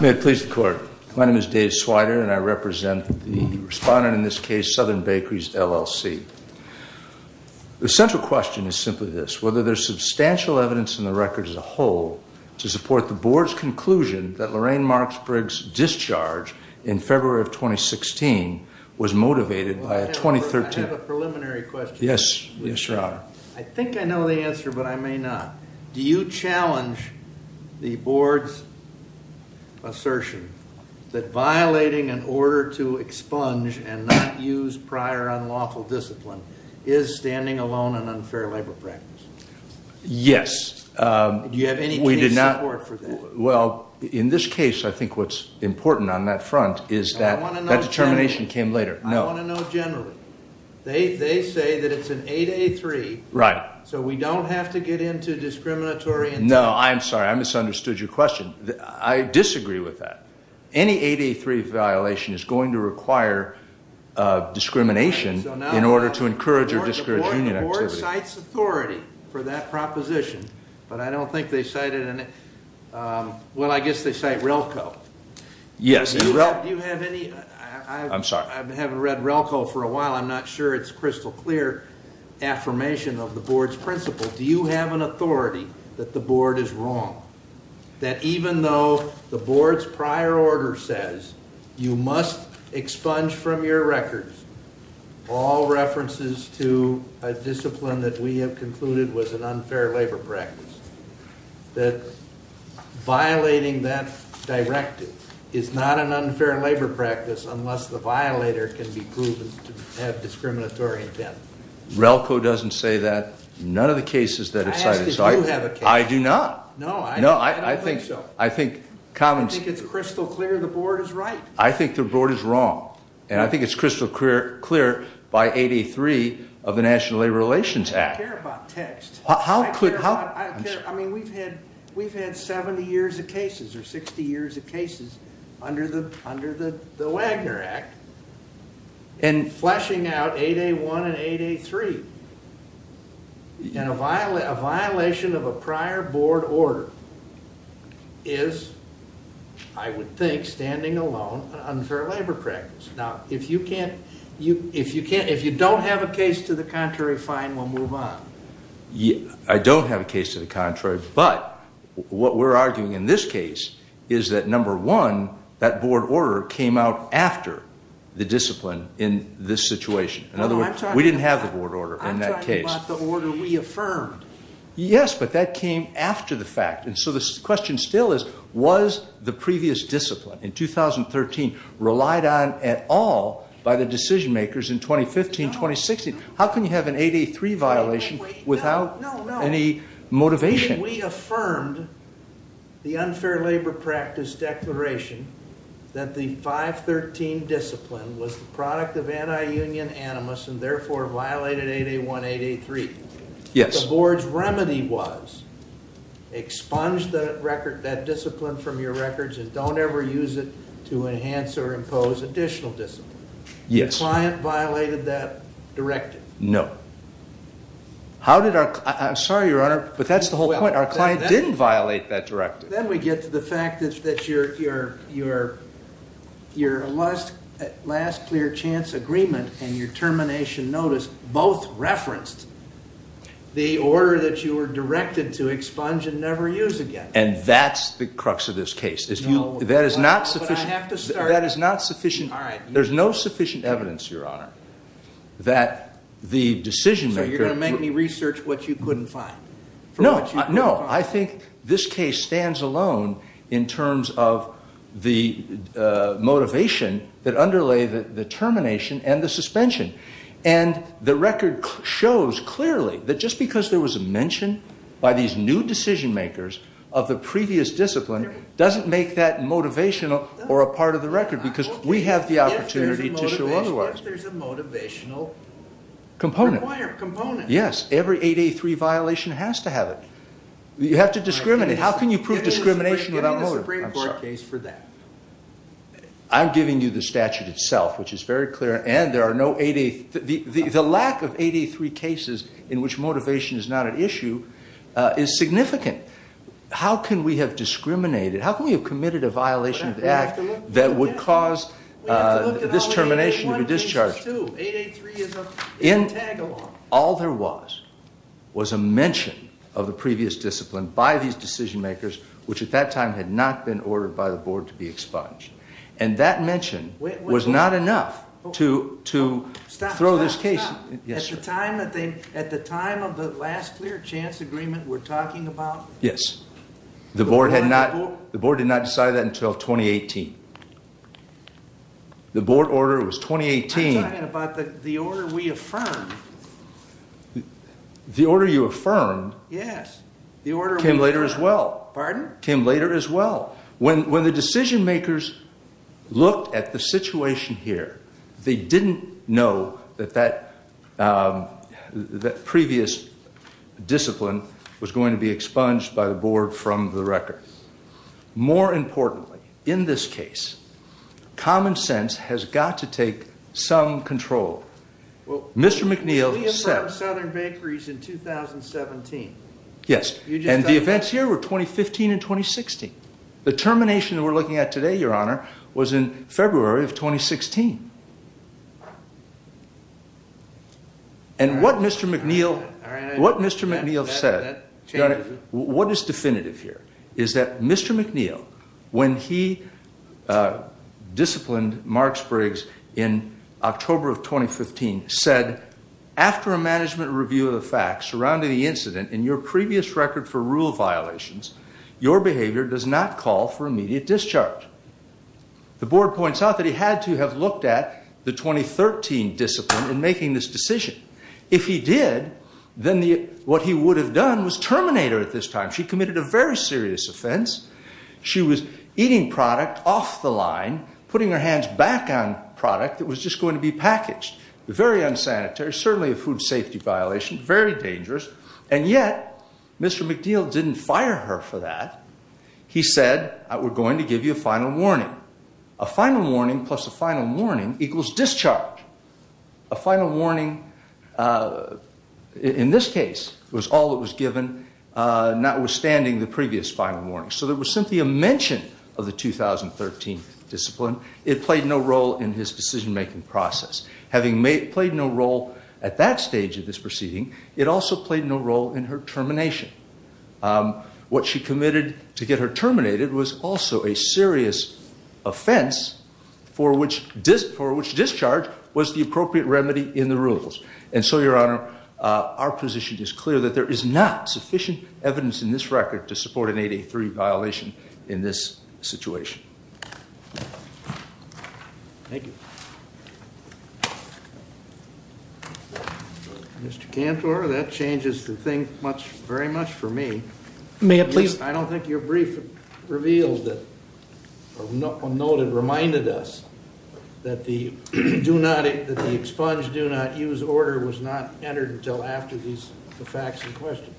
May it please the court. My name is Dave Swider and I represent the respondent in this case, Southern Bakeries, LLC. The central question is simply this, whether there is substantial evidence in the record as a whole to support the board's conclusion that Lorraine Marks Briggs' discharge in February of 2016 was motivated by a 2013... I have a preliminary question. Yes, your honor. I think I know the answer, but I may not. Do you challenge the board's assertion that violating an order to expunge and not use prior unlawful discipline is standing alone an unfair labor practice? Yes. Do you have any case support for that? Well, in this case, I think what's important on that front is that determination came later. I want to know generally. They say that it's an 8A3, so we don't have to get into discriminatory... No, I'm sorry. I misunderstood your question. I disagree with that. Any 8A3 violation is going to require discrimination in order to encourage or discourage union activity. The board cites authority for that proposition, but I don't think they cited... well, I guess they cite RELCO. Yes. I'm sorry. I haven't read RELCO for a while. I'm not sure it's crystal clear affirmation of the board's principle. Do you have an authority that the board is wrong, that even though the board's prior order says you must expunge from your records all references to a discipline that we have concluded was an unfair labor practice, that violating that directive is not an unfair labor practice unless the violator can be proven to have discriminatory intent? RELCO doesn't say that. None of the cases that it cited... I asked if you have a case. I do not. No, I don't think so. No, I think... I think it's crystal clear the board is right. I think the board is wrong, and I think it's crystal clear by 8A3 of the National Labor Relations Act. I don't care about text. How could... We've had 70 years of cases or 60 years of cases under the Wagner Act, and fleshing out 8A1 and 8A3 and a violation of a prior board order is, I would think, standing alone an unfair labor practice. Now, if you don't have a case to the contrary, fine, we'll move on. I don't have a case to the contrary, but what we're arguing in this case is that, number one, that board order came out after the discipline in this situation. In other words, we didn't have the board order in that case. I'm talking about the order reaffirmed. Yes, but that came after the fact. The question still is, was the previous discipline in 2013 relied on at all by the decision makers in 2015, 2016? How can you have an 8A3 violation without any motivation? We affirmed the unfair labor practice declaration that the 513 discipline was the product of anti-union animus and, therefore, violated 8A1, 8A3. Yes. The board's remedy was expunge that discipline from your records and don't ever use it to enhance or impose additional discipline. Yes. The client violated that directive. No. I'm sorry, Your Honor, but that's the whole point. Our client didn't violate that directive. Then we get to the fact that your last clear chance agreement and your termination notice both referenced the order that you were directed to expunge and never use again. And that's the crux of this case. No. That is not sufficient. But I have to start. That is not sufficient. All right. There's no sufficient evidence, Your Honor, that the decision maker— So you're going to make me research what you couldn't find? No. I think this case stands alone in terms of the motivation that underlay the termination and the suspension. And the record shows clearly that just because there was a mention by these new decision makers of the previous discipline doesn't make that motivational or a part of the record because we have the opportunity to show otherwise. If there's a motivational— Component. —requirement, component. Yes. Every 8A3 violation has to have it. You have to discriminate. How can you prove discrimination without motive? I'm giving you the Supreme Court case for that. I'm giving you the statute itself, which is very clear, and there are no 8A—the lack of 8A3 cases in which motivation is not at issue is significant. How can we have discriminated? How can we have committed a violation of the act that would cause this termination to be discharged? We have to look at all 8A1 cases, too. 8A3 is a tag-along. All there was was a mention of the previous discipline by these decision makers, which at that time had not been ordered by the board to be expunged. And that mention was not enough to throw this case— Stop, stop, stop. Yes, sir. At the time of the last clear chance agreement we're talking about? Yes. The board had not—the board did not decide that until 2018. The board order was 2018— I'm talking about the order we affirmed. The order you affirmed— Yes. The order we— Came later as well. Pardon? Came later as well. When the decision makers looked at the situation here, they didn't know that that previous discipline was going to be expunged by the board from the record. More importantly, in this case, common sense has got to take some control. Mr. McNeil said— We said Southern Bakeries in 2017. Yes. And the events here were 2015 and 2016. The termination that we're looking at today, Your Honor, was in February of 2016. And what Mr. McNeil— All right. What Mr. McNeil said— That changes it. What is definitive here is that Mr. McNeil, when he disciplined Marks Briggs in October of 2015, said, After a management review of the facts surrounding the incident in your previous record for rule violations, your behavior does not call for immediate discharge. The board points out that he had to have looked at the 2013 discipline in making this decision. If he did, then what he would have done was terminate her at this time. She committed a very serious offense. She was eating product off the line, putting her hands back on product that was just going to be packaged. Very unsanitary. Certainly a food safety violation. Very dangerous. And yet, Mr. McNeil didn't fire her for that. He said, We're going to give you a final warning. A final warning plus a final warning equals discharge. A final warning, in this case, was all that was given, notwithstanding the previous final warning. So there was simply a mention of the 2013 discipline. It played no role in his decision-making process. Having played no role at that stage of this proceeding, it also played no role in her termination. What she committed to get her terminated was also a serious offense for which discharge was the appropriate remedy in the rules. And so, Your Honor, our position is clear that there is not sufficient evidence in this record to support an 8A3 violation in this situation. Thank you. Mr. Cantor, that changes the thing very much for me. I don't think your brief revealed or noted or reminded us that the expunge, do not use order was not entered until after the facts in question.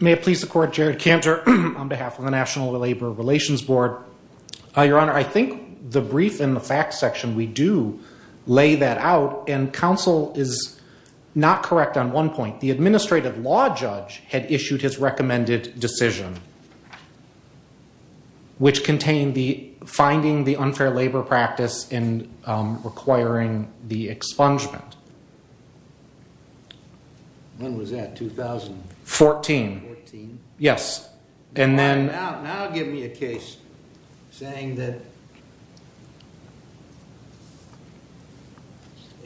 May it please the Court, Jared Cantor on behalf of the National Labor Relations Board. Your Honor, I think the brief in the facts section, we do lay that out, and counsel is not correct on one point. The administrative law judge had issued his recommended decision, which contained the finding the unfair labor practice and requiring the expungement. When was that, 2000? 14. 14? Yes. Now give me a case saying that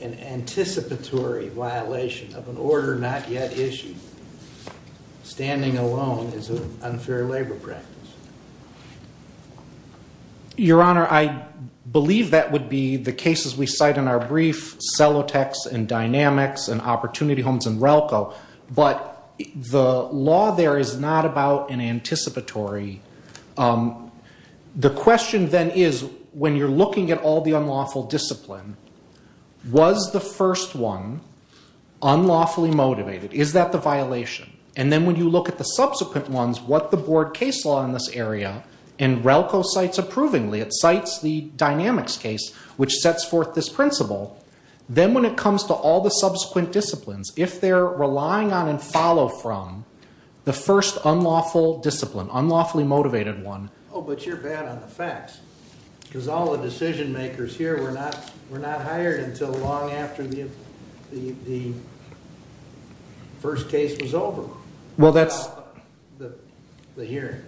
an anticipatory violation of an order not yet issued, standing alone, is an unfair labor practice. Your Honor, I believe that would be the cases we cite in our brief, Celotex and Dynamics and Opportunity Homes and RELCO. But the law there is not about an anticipatory. The question then is, when you're looking at all the unlawful discipline, was the first one unlawfully motivated? Is that the violation? And then when you look at the subsequent ones, what the board case law in this area, and RELCO cites approvingly, it cites the Dynamics case, which sets forth this principle. Then when it comes to all the subsequent disciplines, if they're relying on and follow from the first unlawful discipline, unlawfully motivated one. Oh, but you're bad on the facts. Because all the decision makers here were not hired until long after the first case was over. Well, that's... The hearing.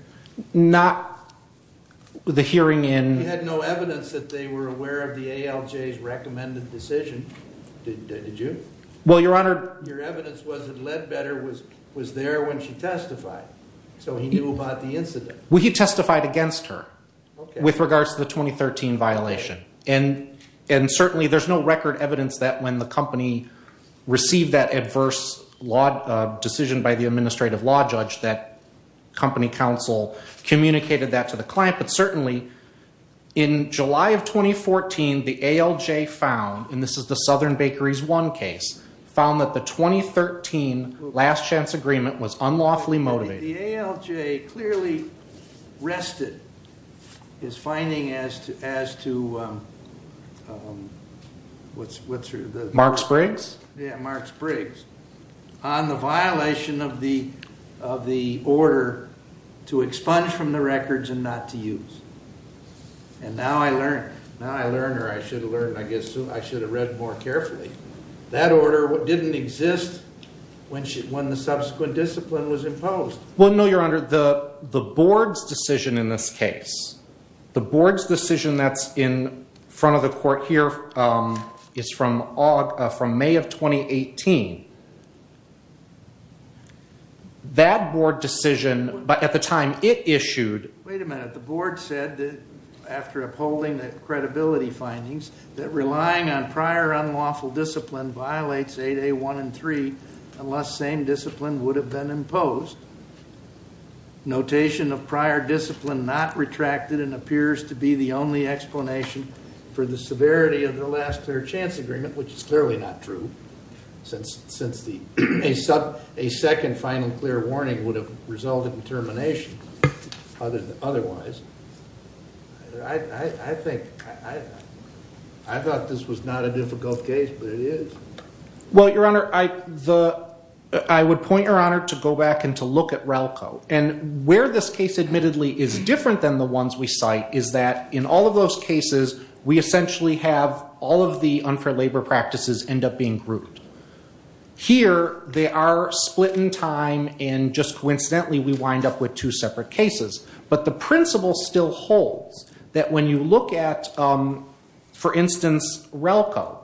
Not the hearing in... We had no evidence that they were aware of the ALJ's recommended decision. Did you? Well, Your Honor... Your evidence was that Ledbetter was there when she testified. So he knew about the incident. Well, he testified against her with regards to the 2013 violation. And certainly, there's no record evidence that when the company received that adverse decision by the administrative law judge, that company counsel communicated that to the client. But certainly, in July of 2014, the ALJ found, and this is the Southern Bakeries 1 case, found that the 2013 last chance agreement was unlawfully motivated. The ALJ clearly rested his finding as to... Marks-Briggs? Yeah, Marks-Briggs, on the violation of the order to expunge from the records and not to use. And now I learned, or I should have learned, I guess I should have read more carefully. That order didn't exist when the subsequent discipline was imposed. Well, no, Your Honor. The board's decision in this case, the board's decision that's in front of the court here is from May of 2018. That board decision, at the time it issued... violates 8A1 and 3, unless same discipline would have been imposed. Notation of prior discipline not retracted and appears to be the only explanation for the severity of the last fair chance agreement, which is clearly not true. Since a second final clear warning would have resulted in termination otherwise. I thought this was not a difficult case, but it is. Well, Your Honor, I would point Your Honor to go back and to look at RALCO. And where this case admittedly is different than the ones we cite is that in all of those cases, we essentially have all of the unfair labor practices end up being grouped. Here, they are split in time and just coincidentally we wind up with two separate cases. But the principle still holds that when you look at, for instance, RALCO.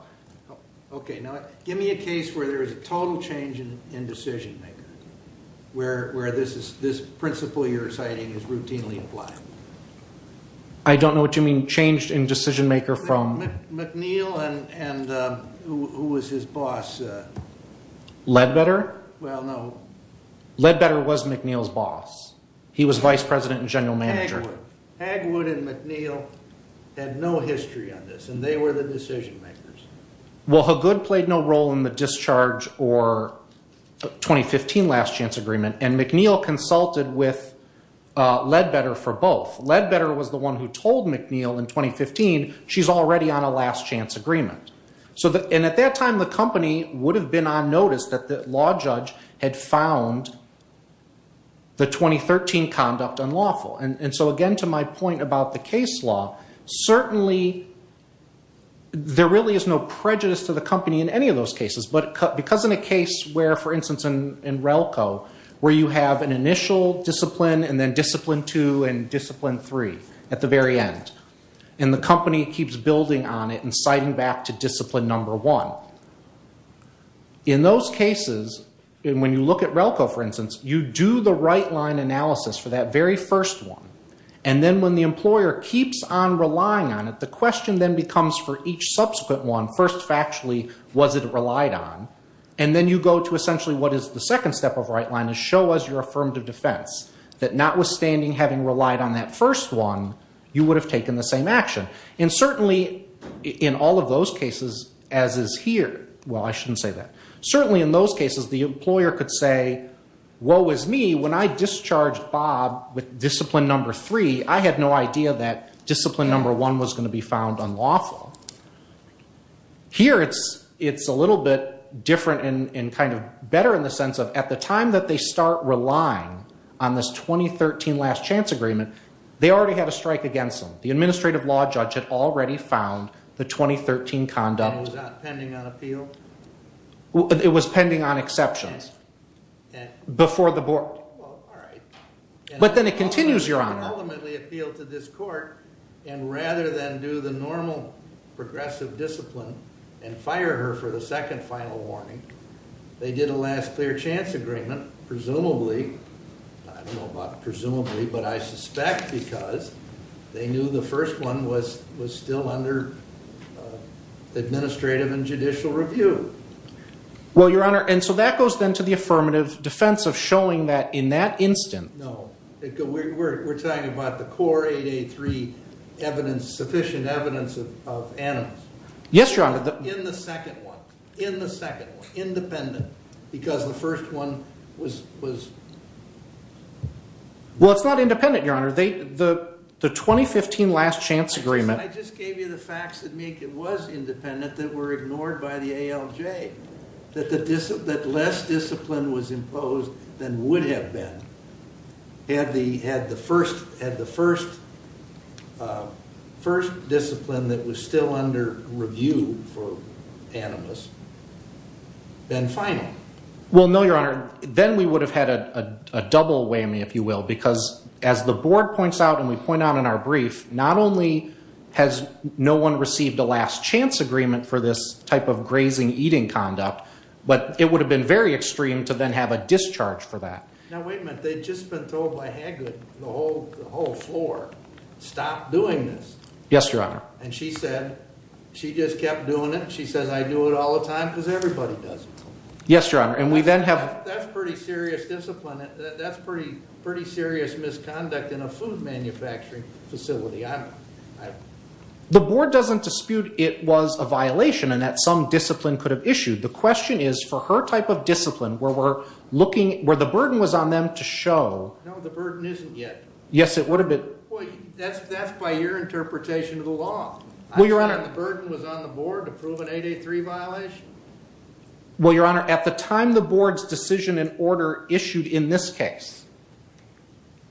Okay, now give me a case where there is a total change in decision-maker. Where this principle you're citing is routinely applied. I don't know what you mean changed in decision-maker from... McNeil and who was his boss? Ledbetter? Well, no. Ledbetter was McNeil's boss. He was vice president and general manager. Hagwood and McNeil had no history on this, and they were the decision-makers. Well, Hagood played no role in the discharge or 2015 last chance agreement, and McNeil consulted with Ledbetter for both. Ledbetter was the one who told McNeil in 2015, she's already on a last chance agreement. And at that time, the company would have been on notice that the law judge had found the 2013 conduct unlawful. And so, again, to my point about the case law, certainly there really is no prejudice to the company in any of those cases. But because in a case where, for instance, in RALCO, where you have an initial discipline and then discipline two and discipline three at the very end. And the company keeps building on it and citing back to discipline number one. In those cases, when you look at RALCO, for instance, you do the right line analysis for that very first one. And then when the employer keeps on relying on it, the question then becomes for each subsequent one, first factually, was it relied on? And then you go to essentially what is the second step of right line, is show us your affirmative defense. That notwithstanding having relied on that first one, you would have taken the same action. And certainly in all of those cases, as is here, well, I shouldn't say that. Certainly in those cases, the employer could say, woe is me. When I discharged Bob with discipline number three, I had no idea that discipline number one was going to be found unlawful. Here it's a little bit different and kind of better in the sense of at the time that they start relying on this 2013 last chance agreement, they already had a strike against them. The administrative law judge had already found the 2013 conduct. And it was not pending on appeal? It was pending on exceptions. Okay. Before the board. Well, all right. But then it continues, Your Honor. And rather than do the normal progressive discipline and fire her for the second final warning, they did a last clear chance agreement, presumably. I don't know about presumably, but I suspect because they knew the first one was still under administrative and judicial review. Well, Your Honor, and so that goes then to the affirmative defense of showing that in that instant. No. We're talking about the core 883 evidence, sufficient evidence of animus. Yes, Your Honor. In the second one. In the second one. Independent. Because the first one was. Well, it's not independent, Your Honor. The 2015 last chance agreement. I just gave you the facts that make it was independent that were ignored by the ALJ. That less discipline was imposed than would have been had the first discipline that was still under review for animus been final. Well, no, Your Honor. Then we would have had a double whammy, if you will, because as the board points out, and we point out in our brief, not only has no one received a last chance agreement for this type of grazing eating conduct, but it would have been very extreme to then have a discharge for that. Now, wait a minute. They've just been told by Haggard the whole floor. Stop doing this. Yes, Your Honor. And she said she just kept doing it. She says, I do it all the time because everybody does. Yes, Your Honor. And we then have. That's pretty serious discipline. That's pretty, pretty serious misconduct in a food manufacturing facility. The board doesn't dispute it was a violation and that some discipline could have issued. The question is for her type of discipline, where we're looking where the burden was on them to show the burden isn't yet. Yes, it would have been. That's that's by your interpretation of the law. Well, Your Honor. The burden was on the board to prove an 883 violation. Well, Your Honor. At the time, the board's decision and order issued in this case.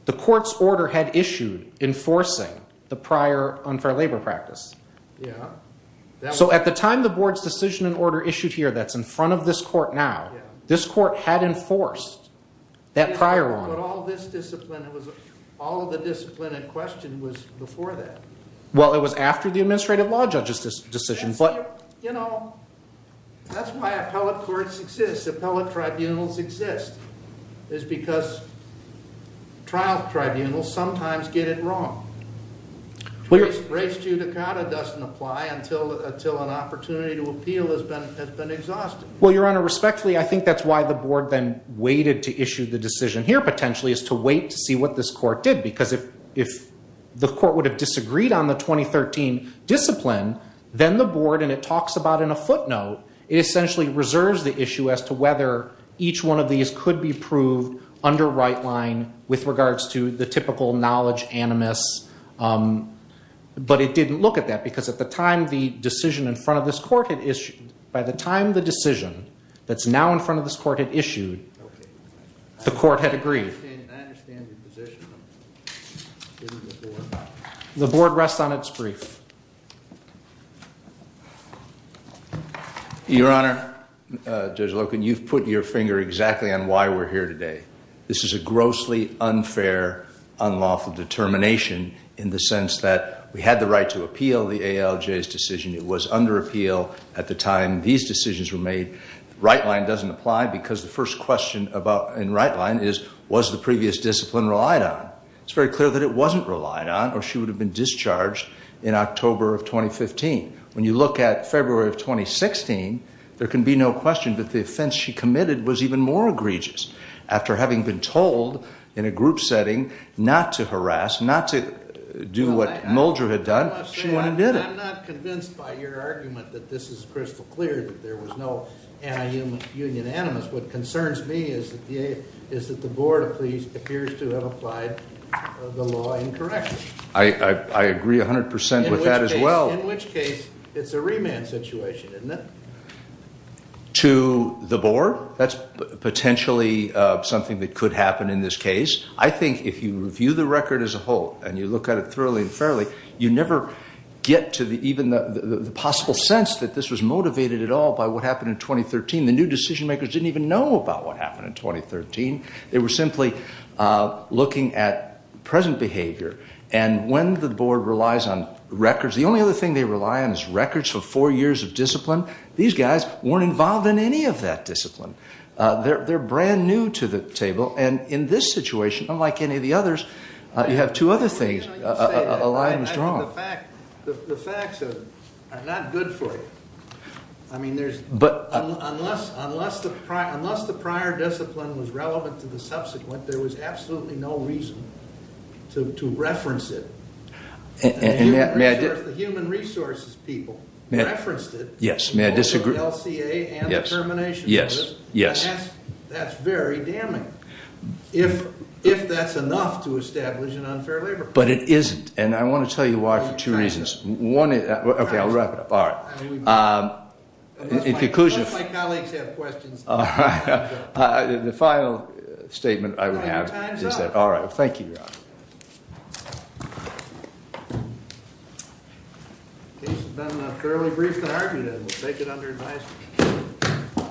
The court's order had issued enforcing the prior unfair labor practice. Yeah. So at the time, the board's decision and order issued here. That's in front of this court. Now, this court had enforced that prior one. All this discipline. It was all of the discipline in question was before that. Well, it was after the administrative law judges decision. But, you know, that's why appellate courts exist. Appellate tribunals exist is because. Trial tribunal sometimes get it wrong. Race to Dakota doesn't apply until until an opportunity to appeal has been has been exhausted. Well, Your Honor, respectfully, I think that's why the board then waited to issue the decision here. Potentially is to wait to see what this court did. Because if the court would have disagreed on the 2013 discipline, then the board and it talks about in a footnote. It essentially reserves the issue as to whether each one of these could be proved under right line with regards to the typical knowledge animus. But it didn't look at that because at the time, the decision in front of this court had issued. By the time the decision that's now in front of this court had issued. The court had agreed. I understand your position. The board rests on its brief. Your Honor, Judge Loken, you've put your finger exactly on why we're here today. This is a grossly unfair, unlawful determination in the sense that we had the right to appeal the ALJ's decision. It was under appeal at the time these decisions were made. Right line doesn't apply because the first question in right line is, was the previous discipline relied on? It's very clear that it wasn't relied on or she would have been discharged in October of 2015. When you look at February of 2016, there can be no question that the offense she committed was even more egregious. After having been told in a group setting not to harass, not to do what Mulder had done, she went and did it. I'm not convinced by your argument that this is crystal clear that there was no anti-union animus. What concerns me is that the board appears to have applied the law incorrectly. I agree 100% with that as well. In which case, it's a remand situation, isn't it? To the board? That's potentially something that could happen in this case. I think if you review the record as a whole and you look at it thoroughly and fairly, you never get to even the possible sense that this was motivated at all by what happened in 2013. The new decision makers didn't even know about what happened in 2013. They were simply looking at present behavior. When the board relies on records, the only other thing they rely on is records for four years of discipline. These guys weren't involved in any of that discipline. They're brand new to the table. In this situation, unlike any of the others, you have two other things. A line was drawn. The facts are not good for you. Unless the prior discipline was relevant to the subsequent, there was absolutely no reason to reference it. The human resources people referenced it in both the LCA and the termination of it. That's very damning. If that's enough to establish an unfair labor law. But it isn't. I want to tell you why for two reasons. One is... Okay, I'll wrap it up. Both my colleagues have questions. The final statement I would have is that... Time's up. Thank you, Ron. Case has been fairly brief to argue that. We'll take it under advisement.